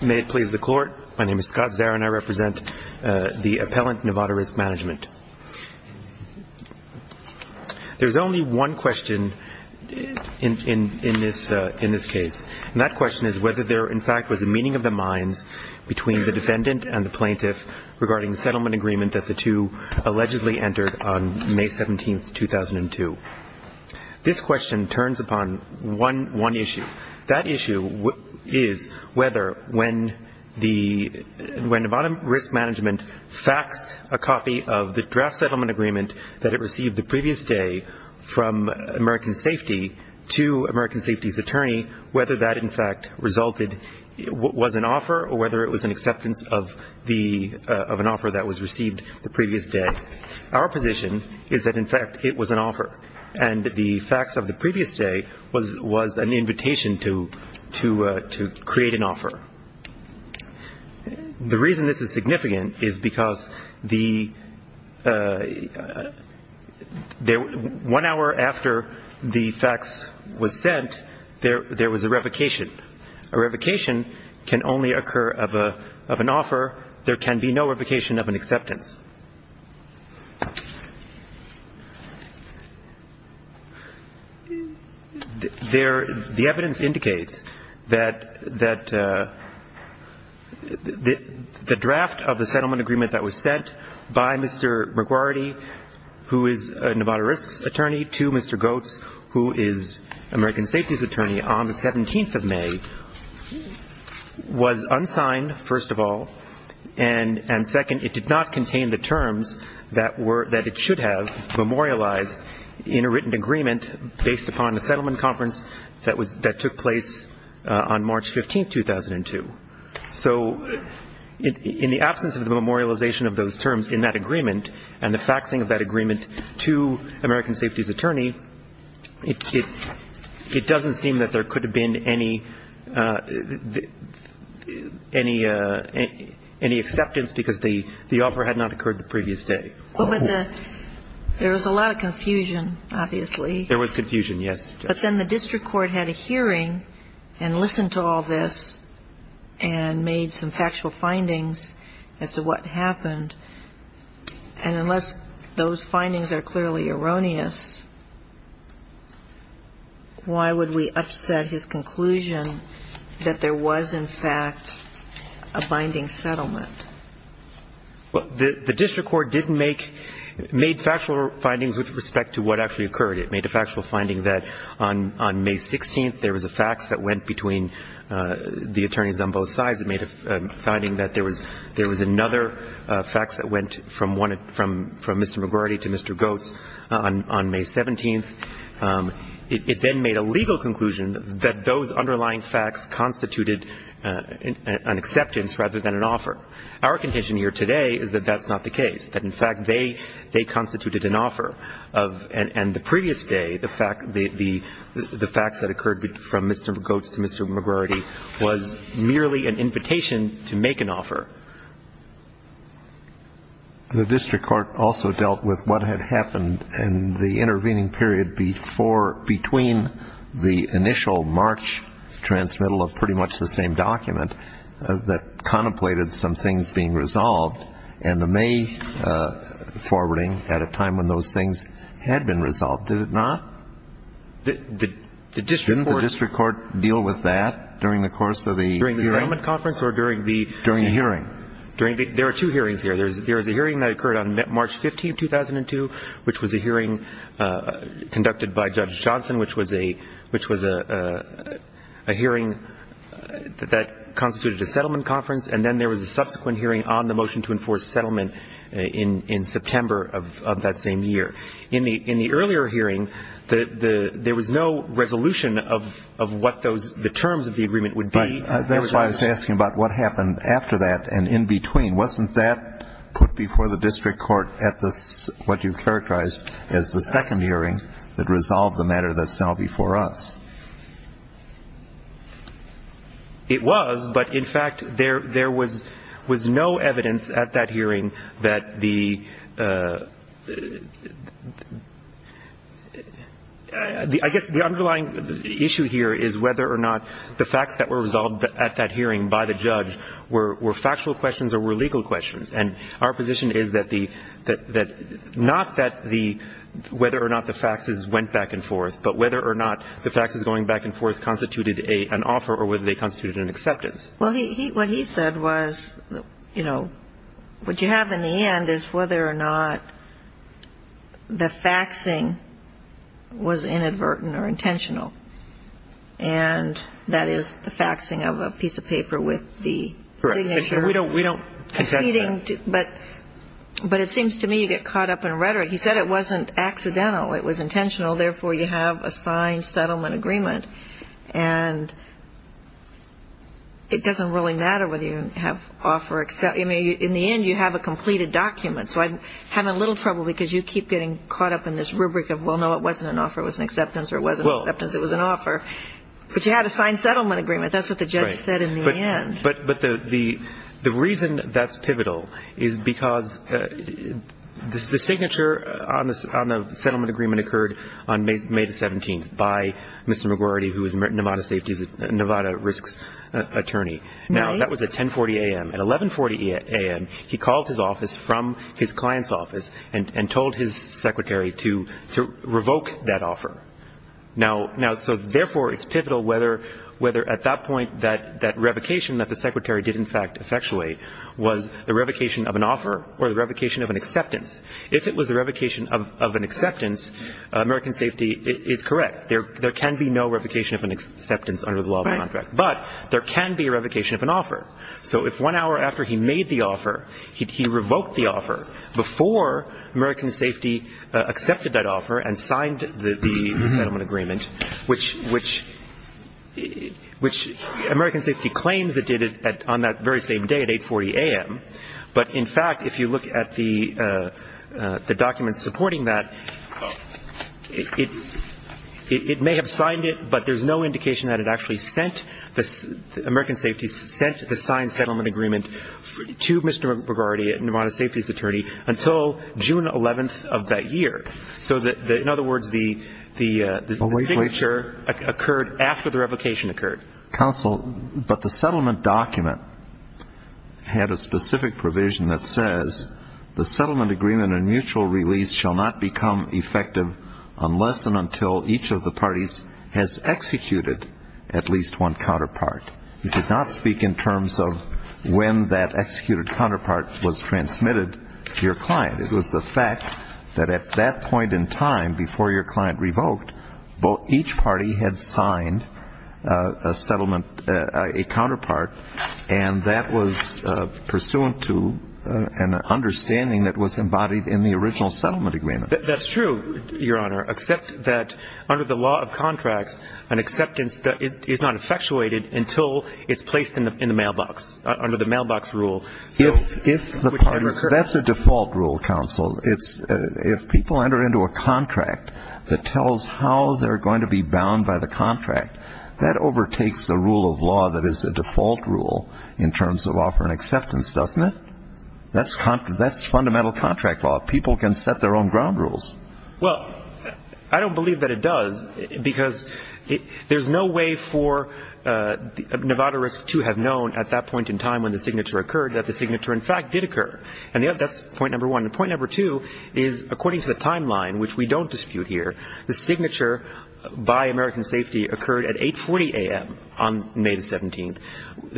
May it please the Court. My name is Scott Zarin. I represent the Appellant Nevada Risk Management. There's only one question in this case, and that question is whether there, in fact, was a meeting of the minds between the defendant and the plaintiff regarding the settlement agreement that the two allegedly entered on May 17, 2002. This question turns upon one issue. That issue is whether when Nevada Risk Management faxed a copy of the draft settlement agreement that it received the previous day from American Safety to American Safety's attorney, whether that, in fact, resulted, was an offer or whether it was an acceptance of an offer that was received the previous day. Our position is that, in fact, it was an offer, and the fax of the previous day was an invitation to create an offer. The reason this is significant is because one hour after the fax was sent, there was a revocation. A revocation can only occur of an offer. There can be no revocation of an acceptance. The evidence indicates that the draft of the settlement agreement that was sent by Mr. McGuardy, who is Nevada Risk's attorney, to Mr. Goetz, who is American Safety's attorney, on the 17th of May, was unsigned, first of all, and second, it did not contain the terms that it should have memorialized in a written agreement based upon the settlement conference that took place on March 15, 2002. So in the absence of the memorialization of those terms in that agreement and the faxing of that agreement to American Safety's attorney, it doesn't seem that there could have been any acceptance because the offer had not occurred the previous day. But there was a lot of confusion, obviously. There was confusion, yes. But then the district court had a hearing and listened to all this and made some factual findings as to what happened. And unless those findings are clearly erroneous, why would we upset his conclusion that there was, in fact, a binding settlement? Well, the district court didn't make – made factual findings with respect to what actually occurred. It made a factual finding that on May 16th, there was a fax that went between the attorneys on both sides. It made a finding that there was another fax that went from one – from Mr. McGrady to Mr. Goetz on May 17th. It then made a legal conclusion that those underlying facts constituted an acceptance rather than an offer. Our contention here today is that that's not the case, that, in fact, they constituted an offer. And the previous day, the fax that occurred from Mr. Goetz to Mr. McGrady was merely an invitation to make an offer. The district court also dealt with what had happened in the intervening period before – that contemplated some things being resolved, and the May forwarding at a time when those things had been resolved. Did it not? The district court – Didn't the district court deal with that during the course of the hearing? During the settlement conference or during the – During the hearing. During the – there are two hearings here. There was a hearing that occurred on March 15th, 2002, which was a hearing conducted by Judge Johnson, which was a hearing that constituted a settlement conference. And then there was a subsequent hearing on the motion to enforce settlement in September of that same year. In the earlier hearing, there was no resolution of what those – the terms of the agreement would be. That's why I was asking about what happened after that and in between. Wasn't that put before the district court at the – what you characterized as the second hearing that resolved the matter that's now before us? It was, but in fact, there was no evidence at that hearing that the – I guess the underlying issue here is whether or not the facts that were resolved at that hearing by the judge were factual questions or were legal questions. And our position is that the – not that the – whether or not the facts went back and forth, but whether or not the facts going back and forth constituted an offer or whether they constituted an acceptance. Well, what he said was, you know, what you have in the end is whether or not the faxing was inadvertent or intentional. And that is the faxing of a piece of paper with the signature. Correct. We don't contest that. But it seems to me you get caught up in rhetoric. He said it wasn't accidental. It was intentional. Therefore, you have a signed settlement agreement. And it doesn't really matter whether you have offer – in the end, you have a completed document. So I'm having a little trouble because you keep getting caught up in this rubric of, well, no, it wasn't an offer. It was an acceptance. Or it wasn't an acceptance. It was an offer. But you had a signed settlement agreement. That's what the judge said in the end. Right. But the reason that's pivotal is because the signature on the settlement agreement occurred on May 17th by Mr. McGuardy, who is a Nevada safety – Nevada risks attorney. Now, that was at 10.40 a.m. At 11.40 a.m., he called his office from his client's office and told his secretary to revoke that offer. Now, so therefore, it's pivotal whether at that point that revocation that the secretary did in fact effectuate was the revocation of an offer or the revocation of an acceptance. If it was the revocation of an acceptance, American Safety is correct. There can be no revocation of an acceptance under the law of contract. But there can be a revocation of an offer. So if one hour after he made the offer, he revoked the offer before American Safety accepted that offer and signed the settlement agreement, which American Safety claims it did on that very same day at 8.40 a.m., but in fact, if you look at the documents supporting that, it may have signed it, but there's no indication that it actually sent the – American Safety sent the signed settlement agreement to Mr. McGuardy, Nevada safety's attorney, until June 11th of that year. So in other words, the signature occurred after the revocation occurred. Counsel, but the settlement document had a specific provision that says, the settlement agreement and mutual release shall not become effective unless and until each of the parties has executed at least one counterpart. He did not speak in terms of when that executed counterpart was transmitted to your client. It was the fact that at that point in time, before your client revoked, each party had signed a settlement, a counterpart, and that was pursuant to an understanding that was embodied in the original settlement agreement. That's true, Your Honor, except that under the law of contracts, an acceptance is not effectuated until it's placed in the mailbox, under the mailbox rule. That's a default rule, Counsel. If people enter into a contract that tells how they're going to be bound by the contract, that overtakes the rule of law that is a default rule in terms of offer and acceptance, doesn't it? That's fundamental contract law. People can set their own ground rules. Well, I don't believe that it does, because there's no way for – Nevada Risk, too, have known at that point in time when the signature occurred that the signature, in fact, did occur. And that's point number one. And point number two is, according to the timeline, which we don't dispute here, the signature by American Safety occurred at 8.40 a.m. on May 17th,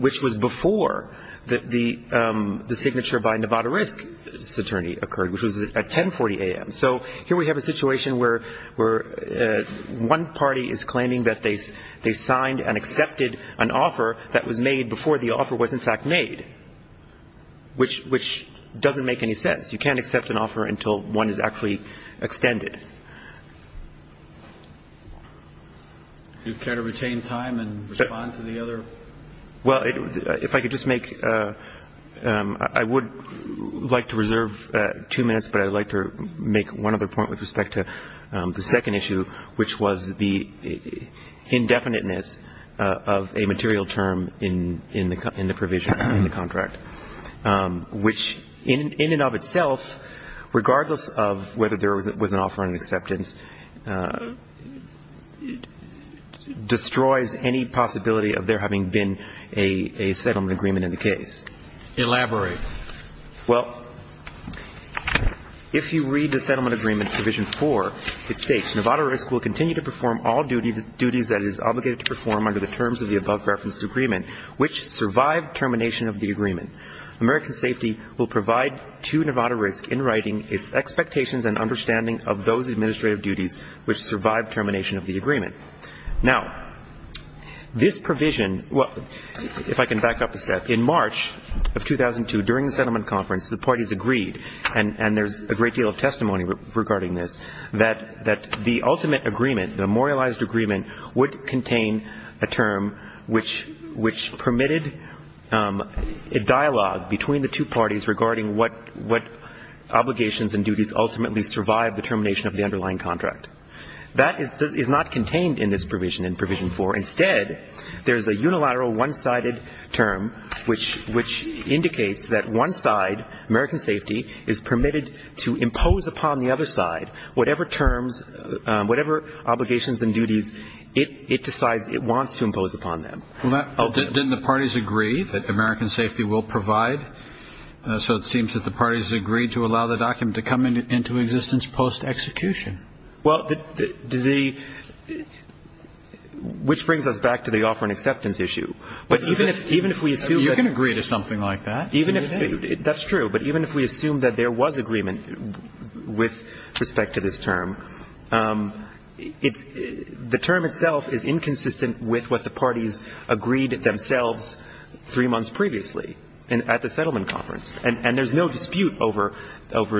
which was before the signature by Nevada Risk's attorney occurred, which was at 10.40 a.m. So here we have a situation where one party is claiming that they signed and accepted an offer that was made before the offer was, in fact, made, which doesn't make any sense. You can't accept an offer until one is actually extended. Do you care to retain time and respond to the other? Well, if I could just make – I would like to reserve two minutes, but I would like to make one other point with respect to the second issue, which was the indefiniteness of a material term in the provision in the contract, which in and of itself, regardless of whether there was an offer or an acceptance, destroys any possibility of there having been a settlement agreement in the case. Elaborate. Well, if you read the settlement agreement, Provision 4, it states, Nevada Risk will continue to perform all duties that it is obligated to perform under the terms of the above-referenced agreement, which survive termination of the agreement. American Safety will provide to Nevada Risk, in writing, its expectations and understanding of those administrative duties which survive termination of the agreement. Now, this provision – well, if I can back up a step. In March of 2002, during the settlement conference, the parties agreed, and there's a great deal of testimony regarding this, that the ultimate agreement, the memorialized agreement, would contain a term which permitted a dialogue between the two parties regarding what obligations and duties ultimately survive the termination of the underlying contract. That is not contained in this provision in Provision 4. Instead, there is a unilateral one-sided term, which indicates that one side, American Safety, is permitted to impose upon the other side whatever terms, whatever obligations and duties it decides it wants to impose upon them. Didn't the parties agree that American Safety will provide? So it seems that the parties agreed to allow the document to come into existence post-execution. Well, which brings us back to the offer and acceptance issue. You can agree to something like that. That's true. But even if we assume that there was agreement with respect to this term, the term itself is inconsistent with what the parties agreed themselves three months previously at the settlement conference. And there's no dispute over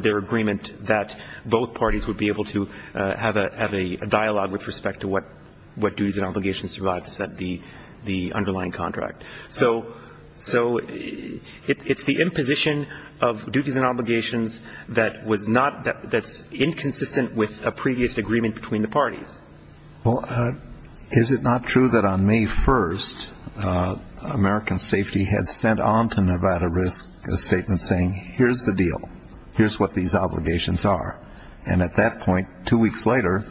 their agreement that both parties would be able to have a dialogue with respect to what duties and obligations survive the underlying contract. So it's the imposition of duties and obligations that's inconsistent with a previous agreement between the parties. Well, is it not true that on May 1st, American Safety had sent on to Nevada Risk a statement saying, here's the deal, here's what these obligations are. And at that point, two weeks later,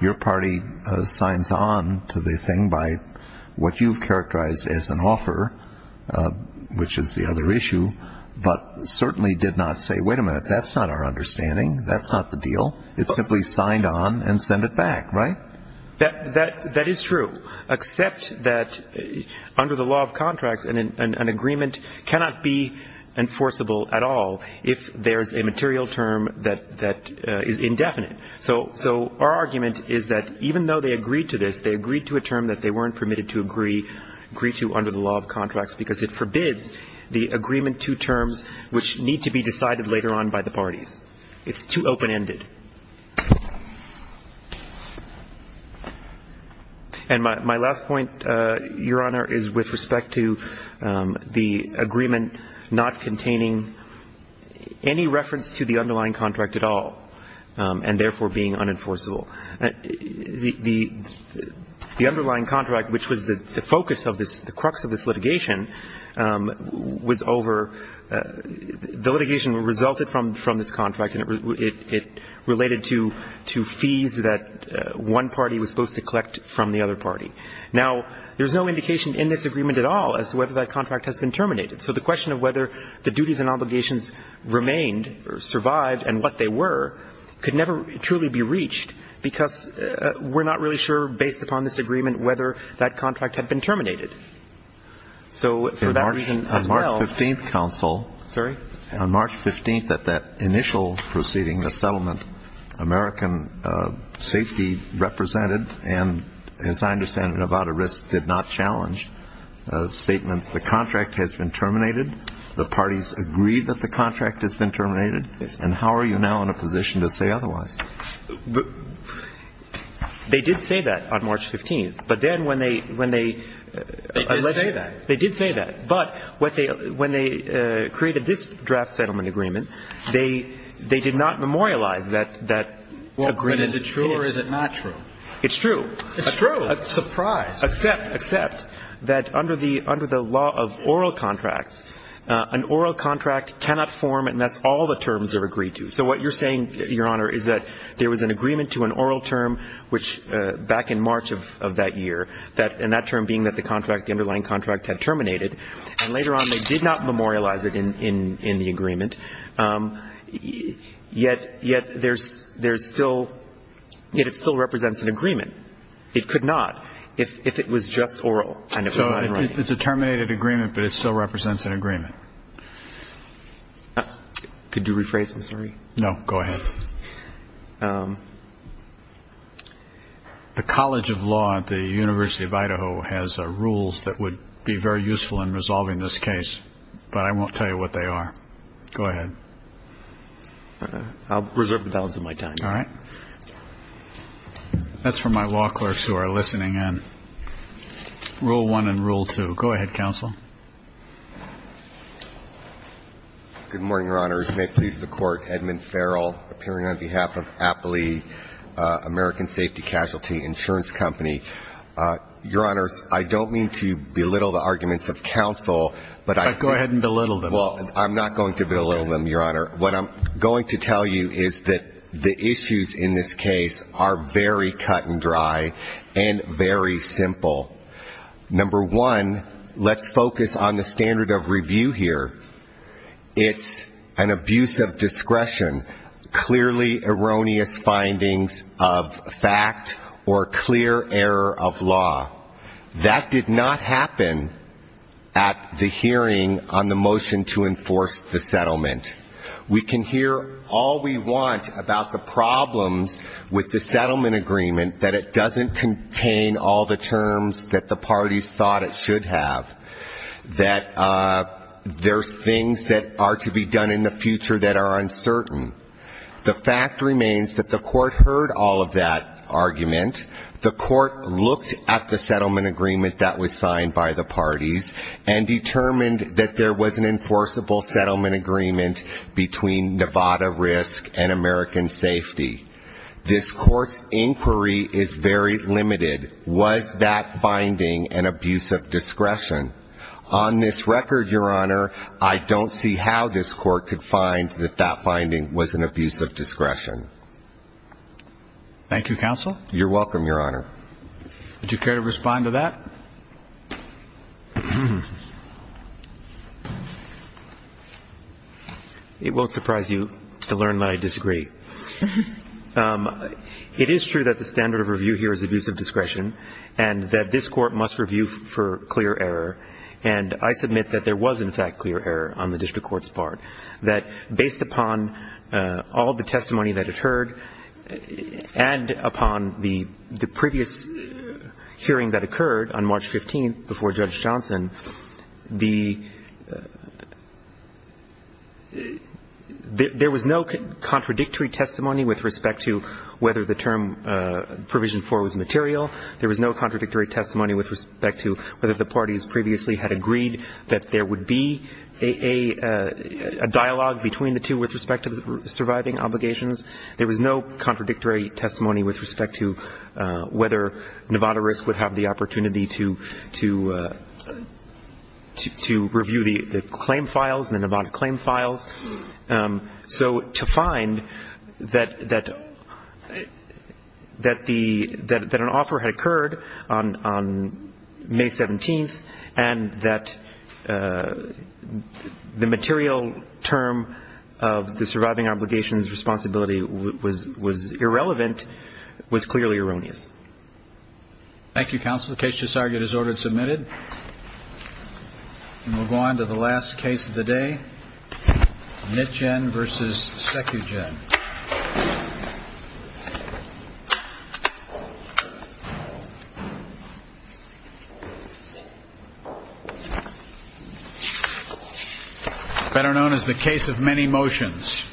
your party signs on to the thing by what you've characterized as an offer, which is the other issue, but certainly did not say, wait a minute, that's not our understanding. That's not the deal. It simply signed on and sent it back, right? That is true, except that under the law of contracts, an agreement cannot be enforceable at all if there's a material term that is indefinite. So our argument is that even though they agreed to this, they agreed to a term that they weren't permitted to agree to under the law of contracts because it forbids the agreement to terms which need to be decided later on by the parties. It's too open-ended. And my last point, Your Honor, is with respect to the agreement not containing any reference to the underlying contract at all. And therefore, being unenforceable. The underlying contract, which was the focus of this, the crux of this litigation, was over the litigation resulted from this contract, and it related to fees that one party was supposed to collect from the other party. Now, there's no indication in this agreement at all as to whether that contract has been terminated. So the question of whether the duties and obligations remained or survived and what they were could never truly be reached because we're not really sure, based upon this agreement, whether that contract had been terminated. So for that reason as well ---- On March 15th, counsel ---- Sorry? On March 15th at that initial proceeding, the settlement, American safety represented and, as I understand it, Nevada Risk did not challenge a statement that the contract has been terminated, the parties agreed that the contract has been terminated, and how are you now in a position to say otherwise? They did say that on March 15th. But then when they ---- They did say that. They did say that. But when they created this draft settlement agreement, they did not memorialize that agreement. But is it true or is it not true? It's true. It's true. Surprise. Except that under the law of oral contracts, an oral contract cannot form unless all the terms are agreed to. So what you're saying, Your Honor, is that there was an agreement to an oral term, which back in March of that year, and that term being that the contract, the underlying contract had terminated, and later on they did not memorialize it in the agreement, yet there's still ---- yet it still represents an agreement. It could not if it was just oral and it was not in writing. It's a terminated agreement, but it still represents an agreement. Could you rephrase it? I'm sorry. No, go ahead. The College of Law at the University of Idaho has rules that would be very useful in resolving this case, but I won't tell you what they are. Go ahead. I'll reserve the balance of my time. All right. That's for my law clerks who are listening in. Rule one and rule two. Go ahead, counsel. Good morning, Your Honors. May it please the Court, Edmund Farrell, appearing on behalf of Appley American Safety Casualty Insurance Company. Your Honors, I don't mean to belittle the arguments of counsel, but I think ---- Go ahead and belittle them. Well, I'm not going to belittle them, Your Honor. What I'm going to tell you is that the issues in this case are very cut and dry and very simple. Number one, let's focus on the standard of review here. It's an abuse of discretion, clearly erroneous findings of fact or clear error of law. That did not happen at the hearing on the motion to enforce the settlement. We can hear all we want about the problems with the settlement agreement, that it doesn't contain all the terms that the parties thought it should have, that there's things that are to be done in the future that are uncertain. The fact remains that the Court heard all of that argument. The Court looked at the settlement agreement that was signed by the parties and determined that there was an enforceable settlement agreement between Nevada Risk and American Safety. This Court's inquiry is very limited. Was that finding an abuse of discretion? On this record, Your Honor, I don't see how this Court could find that that finding was an abuse of discretion. Thank you, counsel. You're welcome, Your Honor. Would you care to respond to that? It won't surprise you to learn that I disagree. It is true that the standard of review here is abuse of discretion and that this Court must review for clear error. And I submit that there was, in fact, clear error on the district court's part, that based upon all the testimony that it heard and upon the previous hearing that occurred on March 15th before Judge Johnson, there was no contradictory testimony with respect to whether the term provision 4 was material. There was no contradictory testimony with respect to whether the parties previously had agreed that there would be a dialogue between the two with respect to the surviving obligations. There was no contradictory testimony with respect to whether Nevada Risk would have the opportunity to review the claim files, the Nevada claim files. So to find that an offer had occurred on May 17th and that the material term of the surviving obligations responsibility was irrelevant was clearly erroneous. Thank you, counsel. The case just argued is ordered and submitted. And we'll go on to the last case of the day, Nitjen v. Secugen. Better known as the case of many motions.